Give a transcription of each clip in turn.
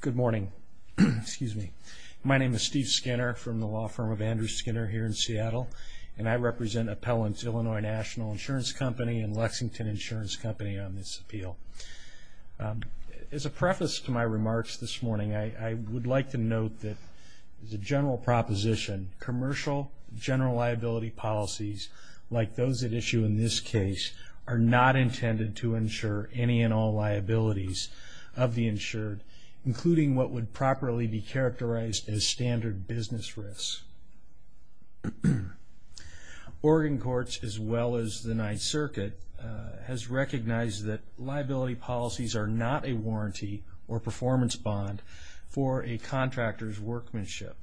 Good morning. Excuse me. My name is Steve Skinner from the law firm of Andrew Skinner here in Seattle, and I represent Appellants Illinois National Insurance Company and Lexington Insurance Company on this appeal. As a preface to my remarks this morning, I would like to note that the general proposition, commercial general liability policies like those at issue in this case are not intended to insure any and all liabilities of the insured, including what would properly be characterized as standard business risks. Oregon Courts, as well as the Ninth Circuit, has recognized that liability policies are not a warranty or performance bond for a contractor's workmanship.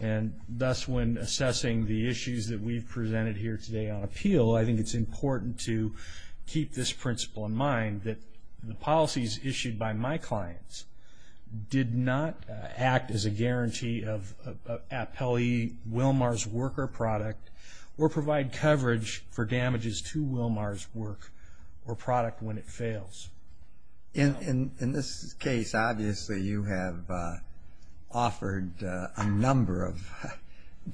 And thus when assessing the issues that we've presented here today on appeal, I think it's important to keep this principle in mind that the policies issued by my clients did not act as a guarantee of Appellee Wilmar's work or product or provide coverage for damages to Wilmar's work or product when it fails. In this case, obviously you have offered a number of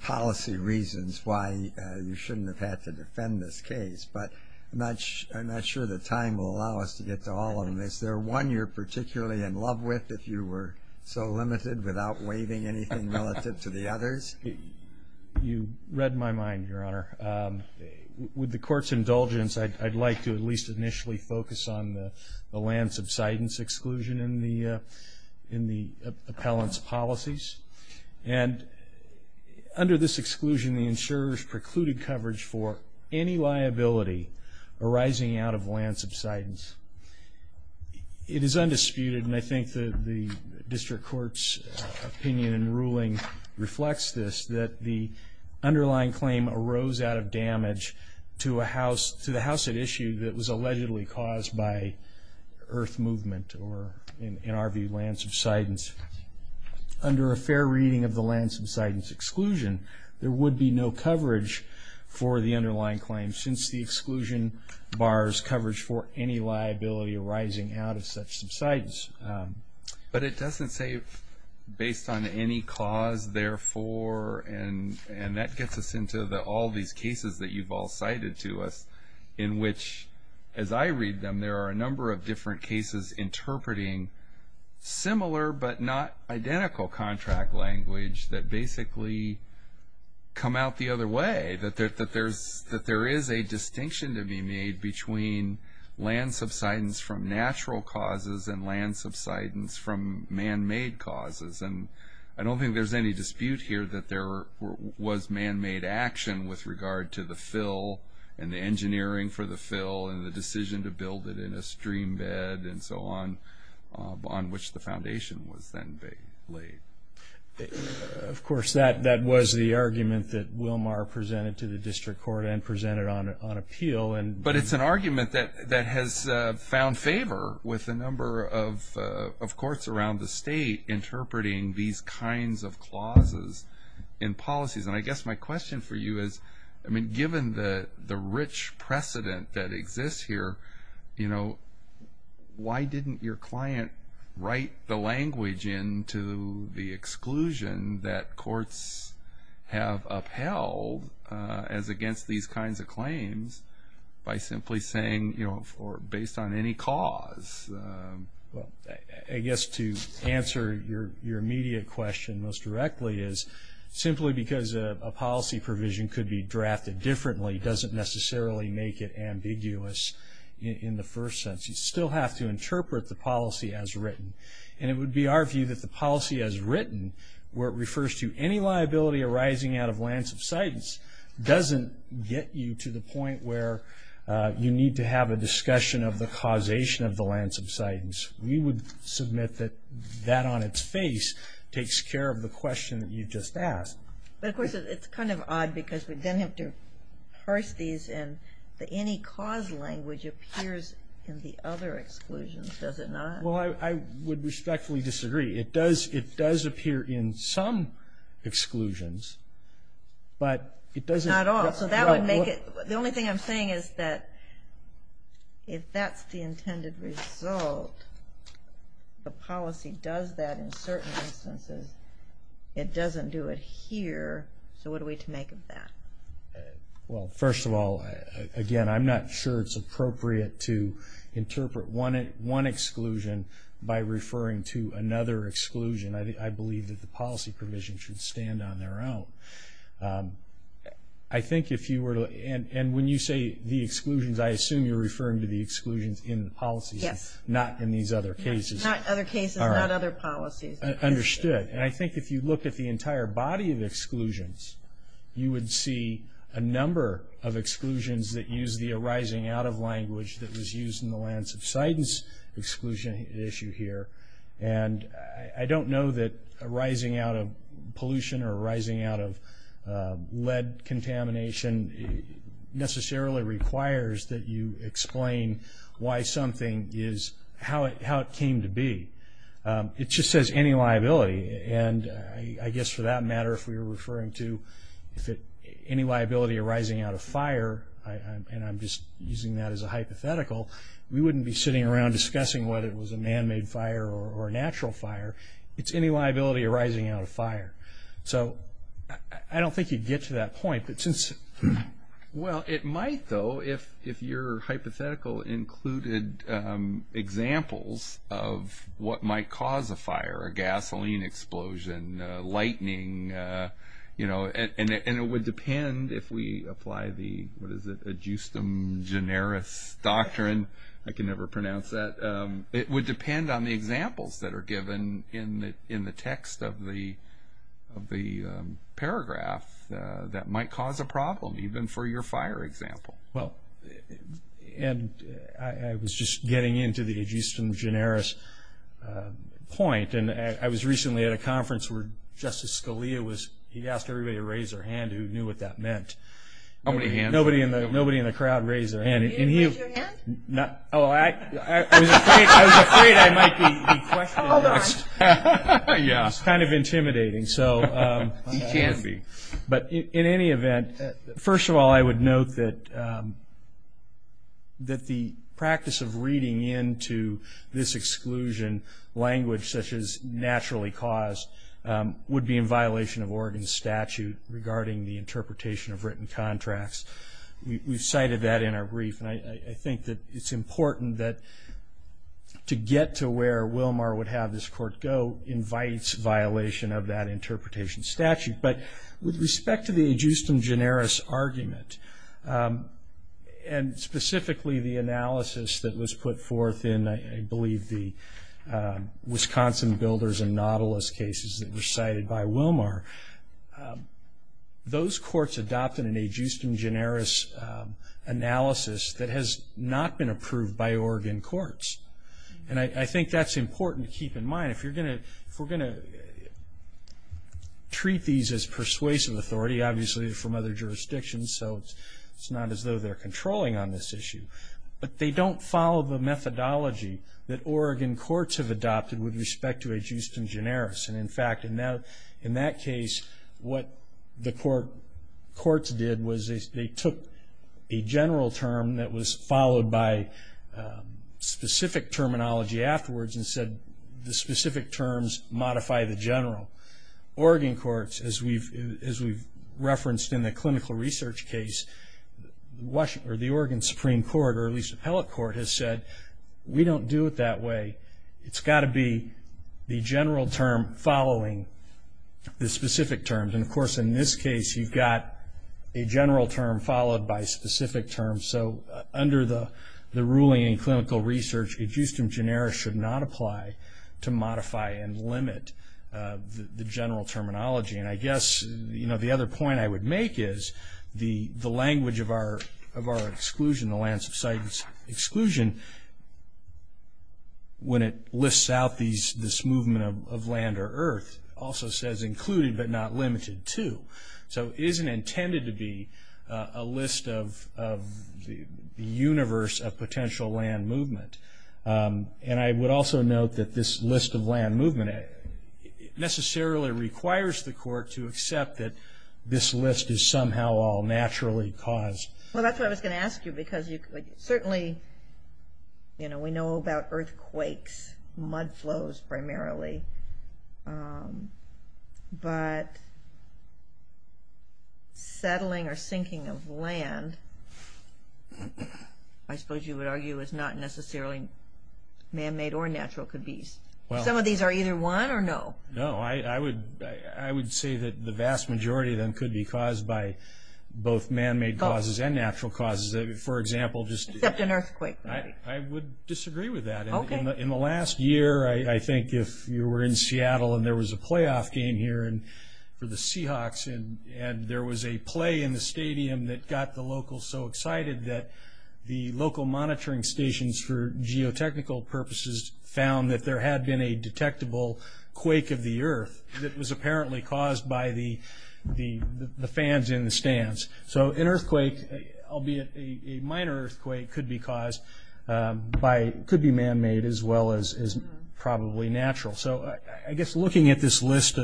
policy reasons why you shouldn't have had to defend this case, but I'm not sure the time will allow us to get to all of them. Is there one you're particularly in love with if you were so limited without waiving anything relative to the others? You read my mind, Your Honor. With the Court's indulgence, I'd like to at least initially focus on the land subsidence exclusion in the appellant's policies. And under this exclusion, the insurer's precluded coverage for any liability arising out of land subsidence. It is undisputed, and I think the District Court's opinion and ruling reflects this, that the underlying claim arose out of damage to the house at issue that was allegedly caused by earth movement or, in our view, land subsidence. Under a fair reading of the land subsidence exclusion, there would be no coverage for the underlying claim since the exclusion bars coverage for any liability arising out of such subsidence. But it doesn't say based on any cause, therefore, and that gets us into all these cases that you've all cited to us, in which, as I read them, there are a number of different cases interpreting similar but not identical contract language that basically come out the other way, that there is a distinction to be made between land subsidence from natural causes and land subsidence from man-made causes. And I don't think there's any dispute here that there was man-made action with regard to the fill and the engineering for the fill and the decision to build it in a stream bed and so on, on which the foundation was then laid. Of course, that was the argument that Wilmar presented to the District Court and presented on appeal. But it's an argument that has found favor with a number of courts around the state interpreting these kinds of clauses in policies. And I guess my question for you is, I mean, given the rich precedent that exists here, you know, why didn't your client write the language into the exclusion that courts have upheld as against these kinds of claims by simply saying, you know, based on any cause? Well, I guess to answer your immediate question most directly is, simply because a policy provision could be drafted differently doesn't necessarily make it ambiguous in the first sense. You still have to interpret the policy as written. And it would be our view that the policy as written, where it refers to any liability arising out of land subsidence, doesn't get you to the point where you need to have a discussion of the causation of the land subsidence. We would submit that that on its face takes care of the question that you just asked. But, of course, it's kind of odd because we then have to parse these and the any cause language appears in the other exclusions, does it not? Well, I would respectfully disagree. It does appear in some exclusions, but it doesn't. Not all. So that would make it. The only thing I'm saying is that if that's the intended result, the policy does that in certain instances. It doesn't do it here. So what are we to make of that? Well, first of all, again, I'm not sure it's appropriate to interpret one exclusion by referring to another exclusion. I believe that the policy provision should stand on their own. I think if you were to, and when you say the exclusions, I assume you're referring to the exclusions in the policies, not in these other cases. Not other cases, not other policies. Understood. And I think if you look at the entire body of exclusions, you would see a number of exclusions that use the arising out of language that was used in the lands of sightings exclusion issue here. And I don't know that arising out of pollution or arising out of lead contamination necessarily requires that you explain why something is how it came to be. It just says any liability. And I guess for that matter, if we were referring to any liability arising out of fire, and I'm just using that as a hypothetical, we wouldn't be sitting around discussing whether it was a man-made fire or a natural fire. It's any liability arising out of fire. So I don't think you'd get to that point. Well, it might, though, if your hypothetical included examples of what might cause a fire, a gasoline explosion, lightning, you know, and it would depend if we apply the, what is it, adjustum generis doctrine. I can never pronounce that. It would depend on the examples that are given in the text of the paragraph that might cause a problem, even for your fire example. Well, and I was just getting into the adjustum generis point. And I was recently at a conference where Justice Scalia was, he asked everybody to raise their hand who knew what that meant. Nobody in the crowd raised their hand. You didn't raise your hand? Oh, I was afraid I might be questioned. Hold on. Yeah. It's kind of intimidating. It can be. But in any event, first of all, I would note that the practice of reading into this exclusion language such as naturally caused would be in violation of Oregon's statute regarding the interpretation of written contracts. We've cited that in our brief. And I think that it's important that to get to where Wilmar would have this court go invites violation of that interpretation statute. But with respect to the adjustum generis argument, and specifically the analysis that was put forth in, I believe, the Wisconsin Builders and Nautilus cases that were cited by Wilmar, those courts adopted an adjustum generis analysis that has not been approved by Oregon courts. And I think that's important to keep in mind. If we're going to treat these as persuasive authority, obviously from other jurisdictions, so it's not as though they're controlling on this issue. But they don't follow the methodology that Oregon courts have adopted with respect to adjustum generis. And, in fact, in that case what the courts did was they took a general term that was followed by specific terminology afterwards and said the specific terms modify the general. Oregon courts, as we've referenced in the clinical research case, the Oregon Supreme Court, or at least appellate court, has said we don't do it that way. It's got to be the general term following the specific terms. And, of course, in this case you've got a general term followed by specific terms. So under the ruling in clinical research, adjustum generis should not apply to modify and limit the general terminology. And I guess the other point I would make is the language of our exclusion, the lands of sight exclusion, when it lists out this movement of land or earth also says included but not limited to. So it isn't intended to be a list of the universe of potential land movement. And I would also note that this list of land movement necessarily requires the court to accept that this list is somehow all naturally caused. Well, that's what I was going to ask you because certainly, you know, we know about earthquakes, mud flows primarily. But settling or sinking of land, I suppose you would argue, is not necessarily man-made or natural. Some of these are either one or no. No. I would say that the vast majority of them could be caused by both man-made causes and natural causes. For example, just an earthquake. I would disagree with that. In the last year, I think if you were in Seattle and there was a playoff game here for the Seahawks and there was a play in the stadium that got the locals so excited that the local monitoring stations for geotechnical purposes found that there had been a detectable quake of the earth that was apparently caused by the fans in the stands. So an earthquake, albeit a minor earthquake, could be man-made as well as probably natural. So I guess looking at this list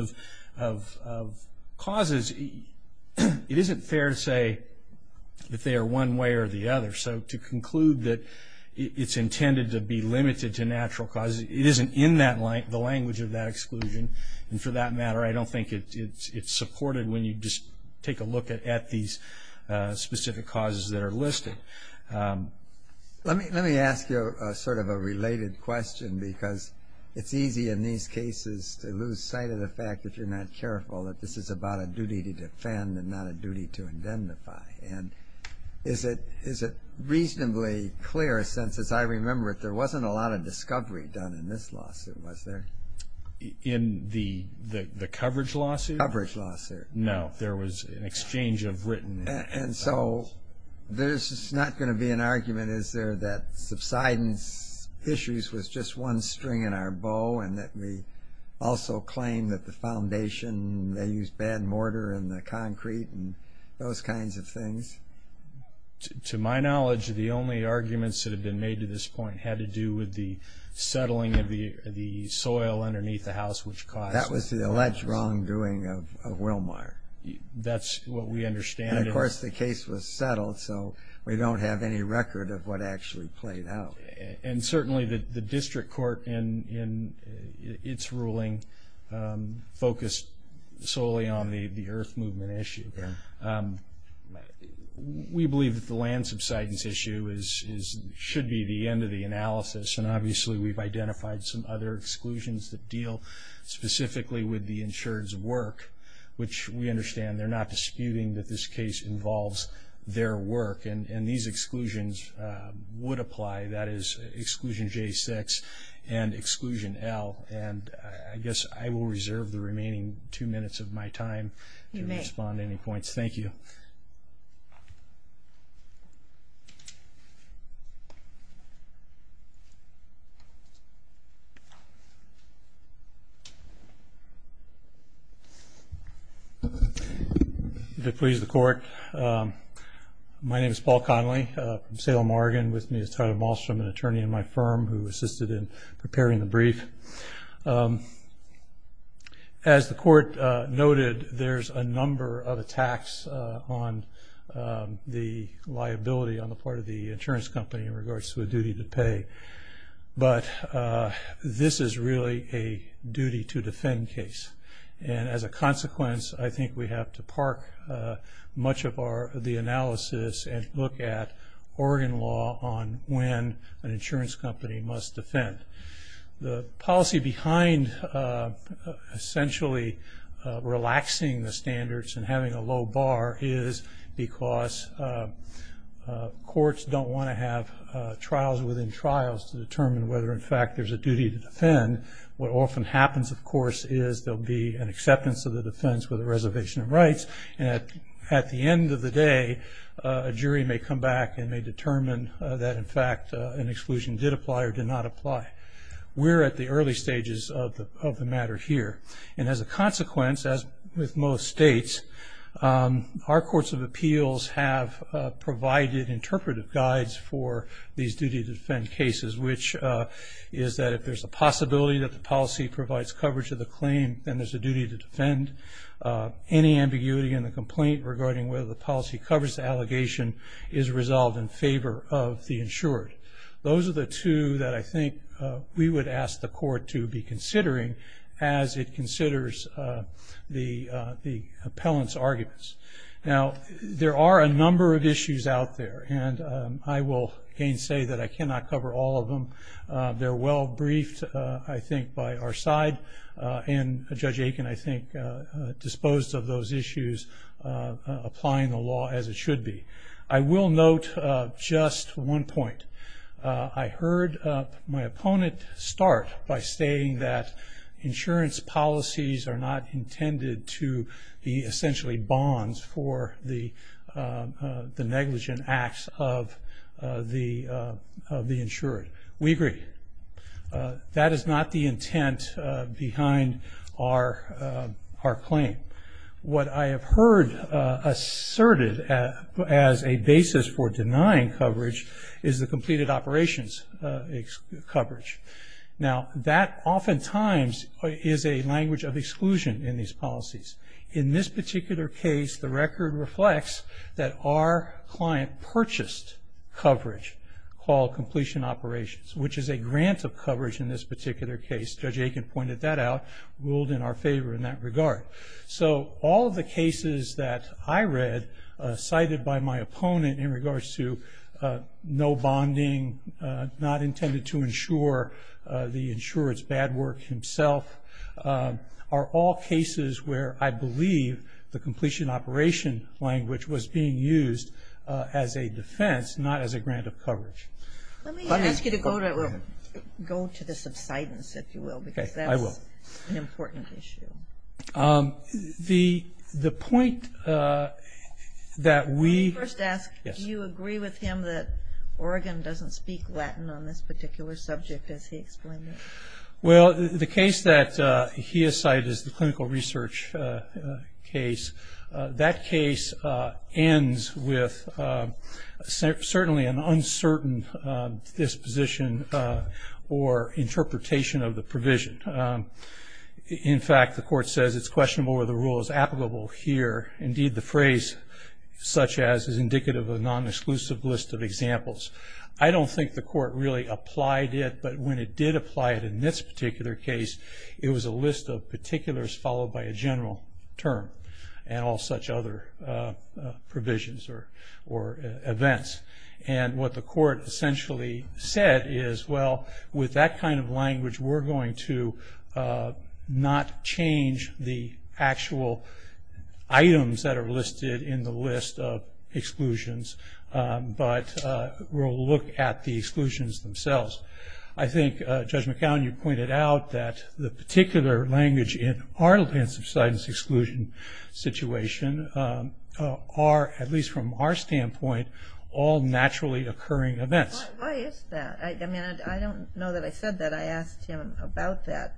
of causes, it isn't fair to say that they are one way or the other. So to conclude that it's intended to be limited to natural causes, it isn't in the language of that exclusion. And for that matter, I don't think it's supported when you just take a look at these specific causes that are listed. Let me ask you sort of a related question, because it's easy in these cases to lose sight of the fact, if you're not careful, that this is about a duty to defend and not a duty to indemnify. And is it reasonably clear, since as I remember it, there wasn't a lot of discovery done in this lawsuit, was there? In the coverage lawsuit? Coverage lawsuit. No, there was an exchange of written evidence. And so there's not going to be an argument, is there, that subsidence issues was just one string in our bow and that we also claim that the foundation, they used bad mortar and the concrete and those kinds of things? To my knowledge, the only arguments that have been made to this point had to do with the settling of the soil underneath the house, That was the alleged wrongdoing of Wilmar. That's what we understand. And, of course, the case was settled, so we don't have any record of what actually played out. And certainly the district court, in its ruling, focused solely on the earth movement issue. We believe that the land subsidence issue should be the end of the analysis, and obviously we've identified some other exclusions that deal specifically with the insured's work, which we understand they're not disputing that this case involves their work. And these exclusions would apply. That is Exclusion J6 and Exclusion L. And I guess I will reserve the remaining two minutes of my time to respond to any points. Thank you. If it pleases the Court, my name is Paul Connolly. I'm from Salem, Oregon. With me is Tyler Malstrom, an attorney in my firm who assisted in preparing the brief. As the Court noted, there's a number of attacks on the liability on the part of the insurance company in regards to a duty to pay. But this is really a duty to defend case. And as a consequence, I think we have to park much of the analysis and look at Oregon law on when an insurance company must defend. The policy behind essentially relaxing the standards and having a low bar is because courts don't want to have trials within trials to determine whether in fact there's a duty to defend. What often happens, of course, is there'll be an acceptance of the defense with a reservation of rights. And at the end of the day, a jury may come back and may determine that, in fact, an exclusion did apply or did not apply. We're at the early stages of the matter here. And as a consequence, as with most states, our courts of appeals have provided interpretive guides for these duty to defend cases, which is that if there's a possibility that the policy provides coverage of the claim and there's a duty to defend, any ambiguity in the complaint regarding whether the policy covers the allegation is resolved in favor of the insured. Those are the two that I think we would ask the court to be considering as it considers the appellant's arguments. Now, there are a number of issues out there, and I will again say that I cannot cover all of them. They're well briefed, I think, by our side, and Judge Aiken, I think, disposed of those issues, applying the law as it should be. I will note just one point. I heard my opponent start by saying that insurance policies are not intended to be essentially bonds for the negligent acts of the insured. We agree. That is not the intent behind our claim. What I have heard asserted as a basis for denying coverage is the completed operations coverage. Now, that oftentimes is a language of exclusion in these policies. In this particular case, the record reflects that our client purchased coverage called completion operations, which is a grant of coverage in this particular case. Judge Aiken pointed that out, ruled in our favor in that regard. So all of the cases that I read cited by my opponent in regards to no bonding, not intended to insure the insured's bad work himself, are all cases where I believe the completion operation language was being used as a defense, not as a grant of coverage. Let me ask you to go to the subsidence, if you will, because that's an important issue. The point that we... First ask, do you agree with him that Oregon doesn't speak Latin on this particular subject, as he explained it? Well, the case that he has cited is the clinical research case. That case ends with certainly an uncertain disposition or interpretation of the provision. In fact, the court says it's questionable whether the rule is applicable here. Indeed, the phrase such as is indicative of a non-exclusive list of examples. I don't think the court really applied it, but when it did apply it in this particular case, it was a list of particulars followed by a general term and all such other provisions or events. And what the court essentially said is, well, with that kind of language, we're going to not change the actual items that are listed in the list of exclusions, but we'll look at the exclusions themselves. I think, Judge McAllen, you pointed out that the particular language in our subsidence exclusion situation are, at least from our standpoint, all naturally occurring events. Why is that? I mean, I don't know that I said that. I asked him about that,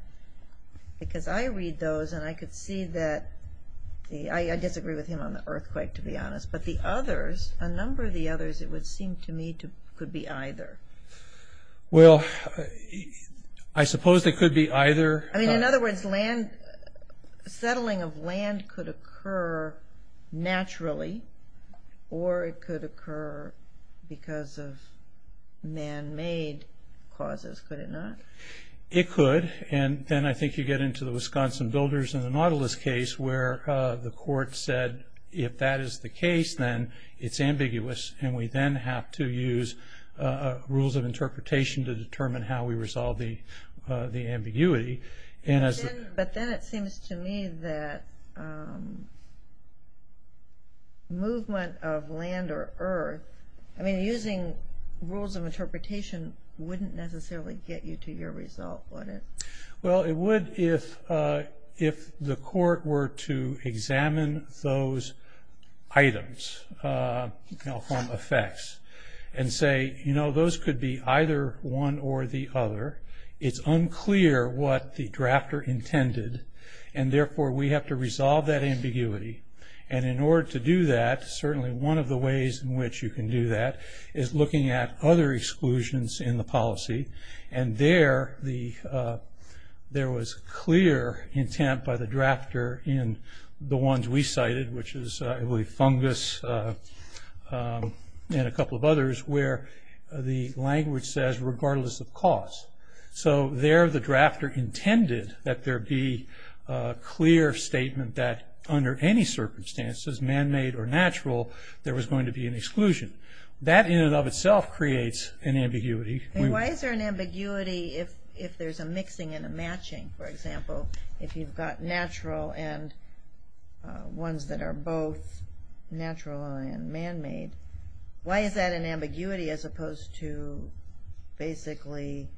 because I read those, and I could see that I disagree with him on the earthquake, to be honest, but the others, a number of the others, it would seem to me could be either. Well, I suppose they could be either. I mean, in other words, settling of land could occur naturally, or it could occur because of man-made causes, could it not? It could, and then I think you get into the Wisconsin builders and the Nautilus case where the court said, if that is the case, then it's ambiguous, and we then have to use rules of interpretation to determine how we resolve the ambiguity. But then it seems to me that movement of land or earth, I mean, using rules of interpretation wouldn't necessarily get you to your result, would it? Well, it would if the court were to examine those items. You know, from effects, and say, you know, those could be either one or the other. It's unclear what the drafter intended, and therefore we have to resolve that ambiguity, and in order to do that, certainly one of the ways in which you can do that is looking at other exclusions in the policy, and there was clear intent by the drafter in the ones we cited, which is I believe fungus and a couple of others, where the language says regardless of cause. So there the drafter intended that there be a clear statement that under any circumstances, man-made or natural, there was going to be an exclusion. That in and of itself creates an ambiguity. Why is there an ambiguity if there's a mixing and a matching, for example, if you've got natural and ones that are both natural and man-made? Why is that an ambiguity as opposed to basically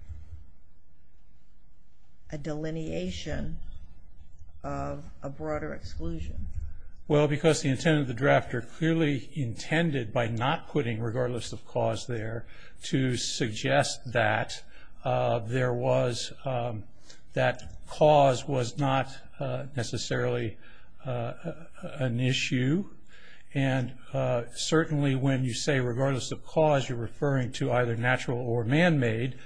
a delineation of a broader exclusion? Well, because the intent of the drafter clearly intended by not putting regardless of cause there to suggest that that cause was not necessarily an issue, and certainly when you say regardless of cause, you're referring to either natural or man-made,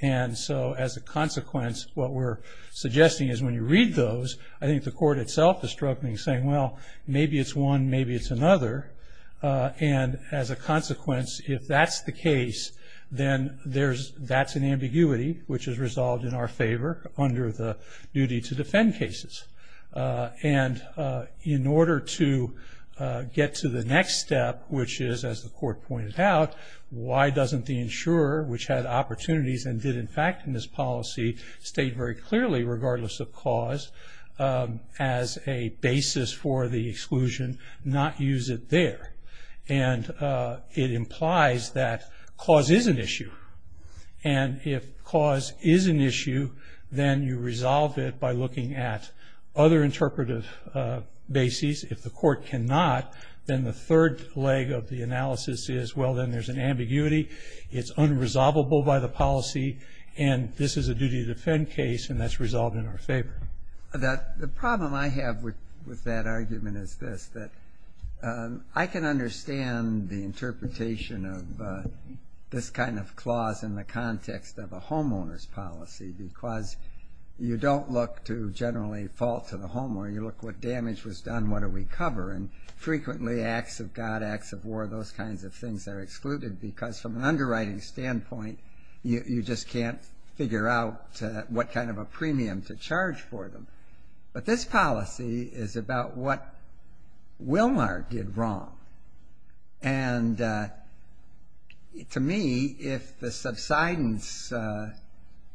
and so as a consequence, what we're suggesting is when you read those, I think the court itself is struggling, saying, well, maybe it's one, maybe it's another, and as a consequence, if that's the case, then that's an ambiguity, which is resolved in our favor under the duty to defend cases. And in order to get to the next step, which is, as the court pointed out, why doesn't the insurer, which had opportunities and did, in fact, in this policy, state very clearly regardless of cause as a basis for the exclusion, not use it there? And it implies that cause is an issue, and if cause is an issue, then you resolve it by looking at other interpretive bases. If the court cannot, then the third leg of the analysis is, well, then there's an ambiguity, it's unresolvable by the policy, and this is a duty to defend case, and that's resolved in our favor. The problem I have with that argument is this, that I can understand the interpretation of this kind of clause in the context of a homeowner's policy because you don't look to generally fault to the homeowner. You look what damage was done, what are we covering. Frequently, acts of God, acts of war, those kinds of things are excluded because from an underwriting standpoint, you just can't figure out what kind of a premium to charge for them. But this policy is about what Wilmar did wrong, and to me, if the subsidence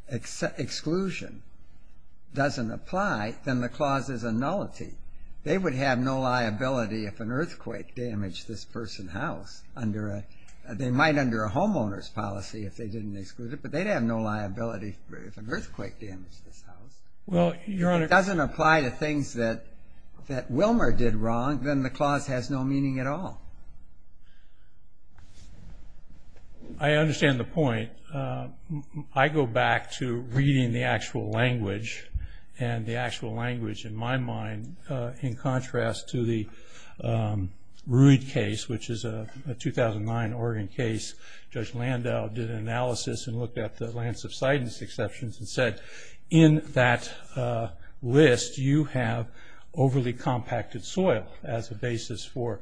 exclusion doesn't apply, then the clause is a nullity. They would have no liability if an earthquake damaged this person's house. They might under a homeowner's policy if they didn't exclude it, but they'd have no liability if an earthquake damaged this house. If it doesn't apply to things that Wilmar did wrong, then the clause has no meaning at all. I understand the point. I go back to reading the actual language, and the actual language in my mind, in contrast to the Ruud case, which is a 2009 Oregon case. Judge Landau did an analysis and looked at the land subsidence exceptions and said, in that list, you have overly compacted soil as a basis for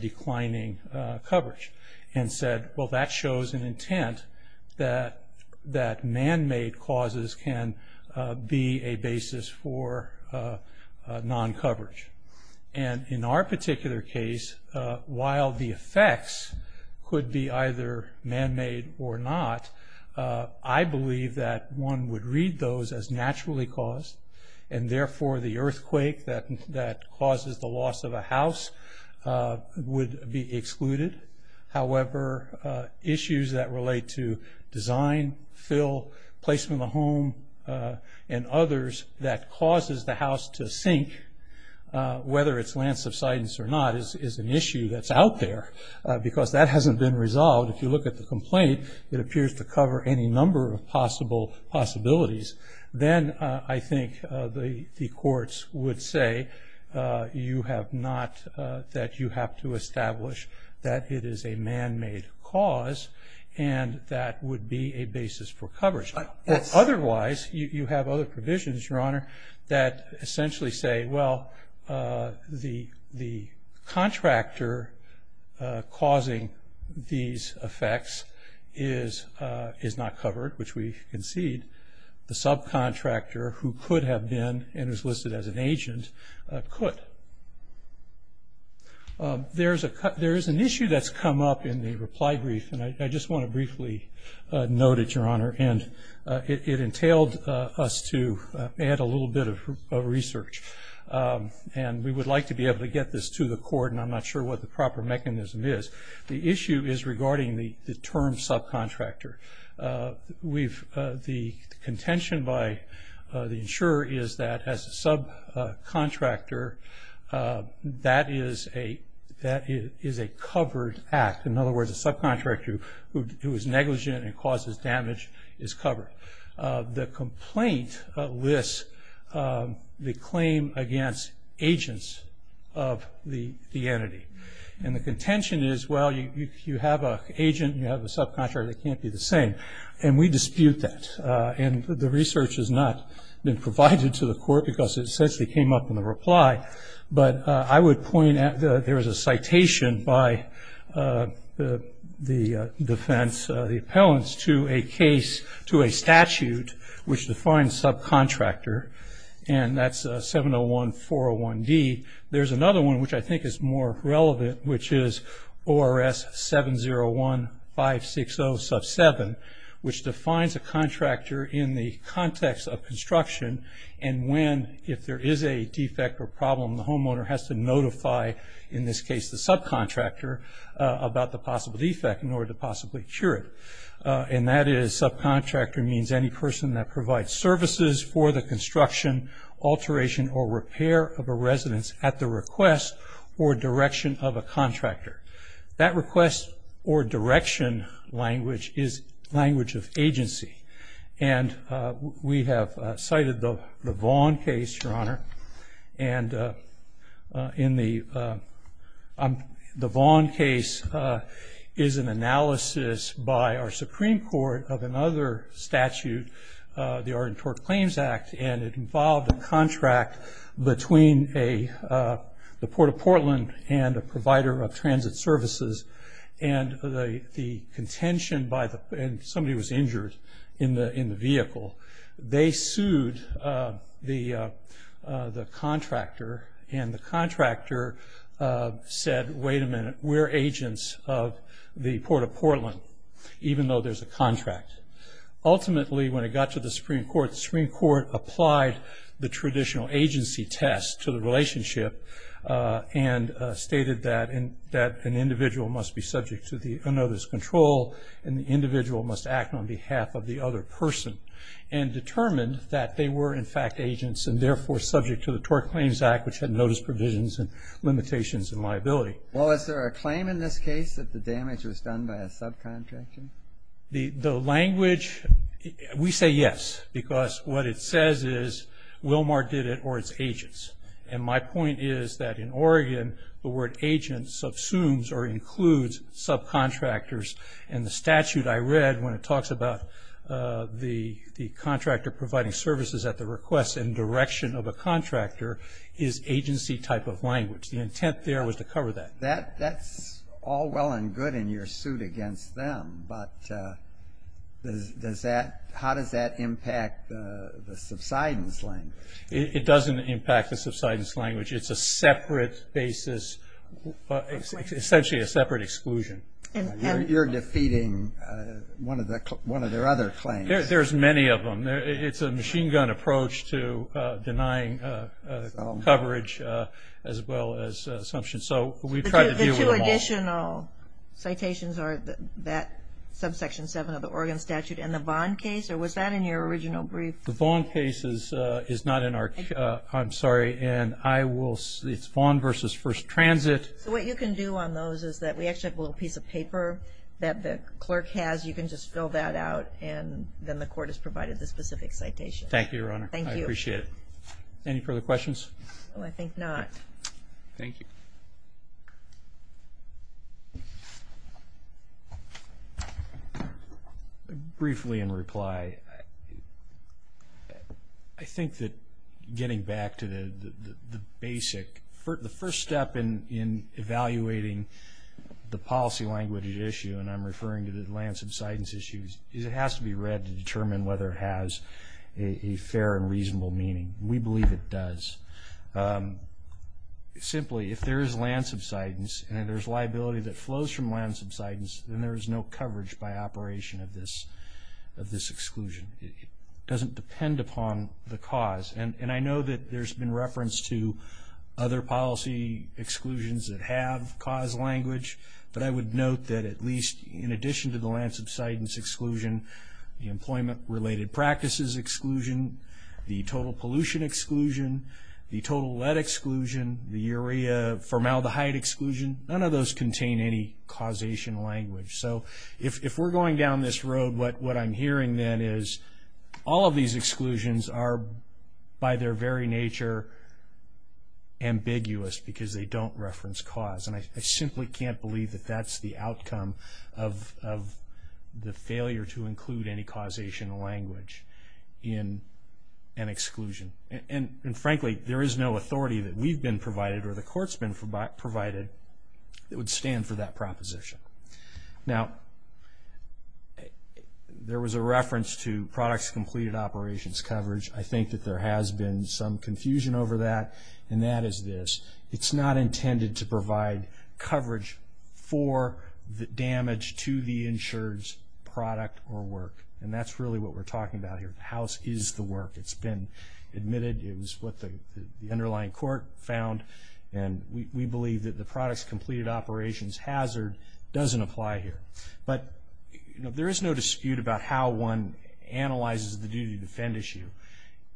declining coverage, and said, well, that shows an intent that man-made clauses can be a basis for non-coverage. In our particular case, while the effects could be either man-made or not, I believe that one would read those as naturally caused, and therefore the earthquake that causes the loss of a house would be excluded. However, issues that relate to design, fill, placement of the home, and others, that causes the house to sink, whether it's land subsidence or not, is an issue that's out there, because that hasn't been resolved. If you look at the complaint, it appears to cover any number of possible possibilities. Then I think the courts would say that you have to establish that it is a man-made cause, and that would be a basis for coverage. Otherwise, you have other provisions, Your Honor, that essentially say, well, the contractor causing these effects is not covered, which we concede. The subcontractor who could have been, and is listed as an agent, could. There is an issue that's come up in the reply brief, and I just want to briefly note it, Your Honor, and it entailed us to add a little bit of research. And we would like to be able to get this to the court, and I'm not sure what the proper mechanism is. The issue is regarding the term subcontractor. The contention by the insurer is that as a subcontractor, that is a covered act. In other words, a subcontractor who is negligent and causes damage is covered. The complaint lists the claim against agents of the entity. And the contention is, well, you have an agent, you have a subcontractor, they can't be the same. And we dispute that. And the research has not been provided to the court because it essentially came up in the reply. But I would point out that there is a citation by the defense, the appellants, to a case, to a statute which defines subcontractor, and that's 701-401-D. There's another one which I think is more relevant, which is ORS 701-560-7, which defines a contractor in the context of construction and when, if there is a defect or problem, the homeowner has to notify, in this case the subcontractor, about the possible defect in order to possibly cure it. And that is subcontractor means any person that provides services for the construction, alteration, or repair of a residence at the request or direction of a contractor. That request or direction language is language of agency. And we have cited the Vaughn case, Your Honor, and the Vaughn case is an analysis by our Supreme Court of another statute, the Ardentort Claims Act, and it involved a contract between the Port of Portland and a provider of transit services. And somebody was injured in the vehicle. They sued the contractor, and the contractor said, wait a minute, we're agents of the Port of Portland, even though there's a contract. Ultimately, when it got to the Supreme Court, the Supreme Court applied the traditional agency test to the relationship and stated that an individual must be subject to the unnoticed control and the individual must act on behalf of the other person and determined that they were, in fact, agents and therefore subject to the Tort Claims Act, which had notice provisions and limitations and liability. Well, is there a claim in this case that the damage was done by a subcontractor? The language, we say yes, because what it says is Wilmar did it or it's agents. And my point is that in Oregon, the word agent subsumes or includes subcontractors, and the statute I read when it talks about the contractor providing services at the request and direction of a contractor is agency type of language. The intent there was to cover that. That's all well and good in your suit against them, but how does that impact the subsidence language? It doesn't impact the subsidence language. It's a separate basis, essentially a separate exclusion. You're defeating one of their other claims. There's many of them. It's a machine gun approach to denying coverage as well as assumptions. So we've tried to deal with them all. The two additional citations are that subsection 7 of the Oregon statute and the Vaughn case, or was that in your original brief? The Vaughn case is not in our, I'm sorry, and I will, it's Vaughn v. First Transit. So what you can do on those is that we actually have a little piece of paper that the clerk has. You can just fill that out, and then the court has provided the specific citation. Thank you, Your Honor. Thank you. I appreciate it. Any further questions? I think not. Thank you. Briefly in reply, I think that getting back to the basic, the first step in evaluating the policy language at issue, and I'm referring to the lands subsidence issues, is it has to be read to determine whether it has a fair and reasonable meaning. We believe it does. Simply, if there is land subsidence and there's liability that flows from land subsidence, then there is no coverage by operation of this exclusion. It doesn't depend upon the cause, and I know that there's been reference to other policy exclusions that have cause language, but I would note that at least in addition to the land subsidence exclusion, the employment-related practices exclusion, the total pollution exclusion, the total lead exclusion, the urea formaldehyde exclusion, none of those contain any causation language. So if we're going down this road, what I'm hearing then is all of these exclusions are by their very nature ambiguous because they don't reference cause, and I simply can't believe that that's the outcome of the failure to include any causation language in an exclusion. And frankly, there is no authority that we've been provided or the court's been provided that would stand for that proposition. Now, there was a reference to products completed operations coverage. I think that there has been some confusion over that, and that is this. It's not intended to provide coverage for the damage to the insured's product or work, and that's really what we're talking about here. The house is the work. It's been admitted. It was what the underlying court found, and we believe that the products completed operations hazard doesn't apply here. But there is no dispute about how one analyzes the duty to defend issue.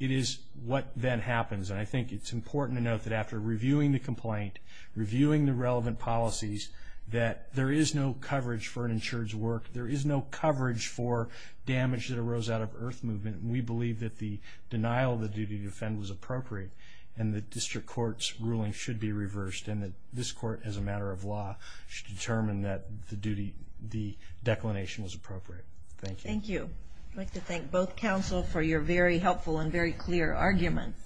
It is what then happens, and I think it's important to note that after reviewing the complaint, reviewing the relevant policies, that there is no coverage for an insured's work. There is no coverage for damage that arose out of earth movement, and we believe that the denial of the duty to defend was appropriate and that district court's ruling should be reversed and that this court, as a matter of law, should determine that the declination was appropriate. Thank you. Thank you. I'd like to thank both counsel for your very helpful and very clear arguments.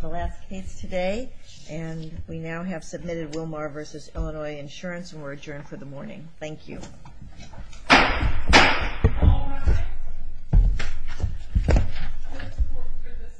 The last case today, and we now have submitted Wilmar v. Illinois Insurance, and we're adjourned for the morning. Thank you.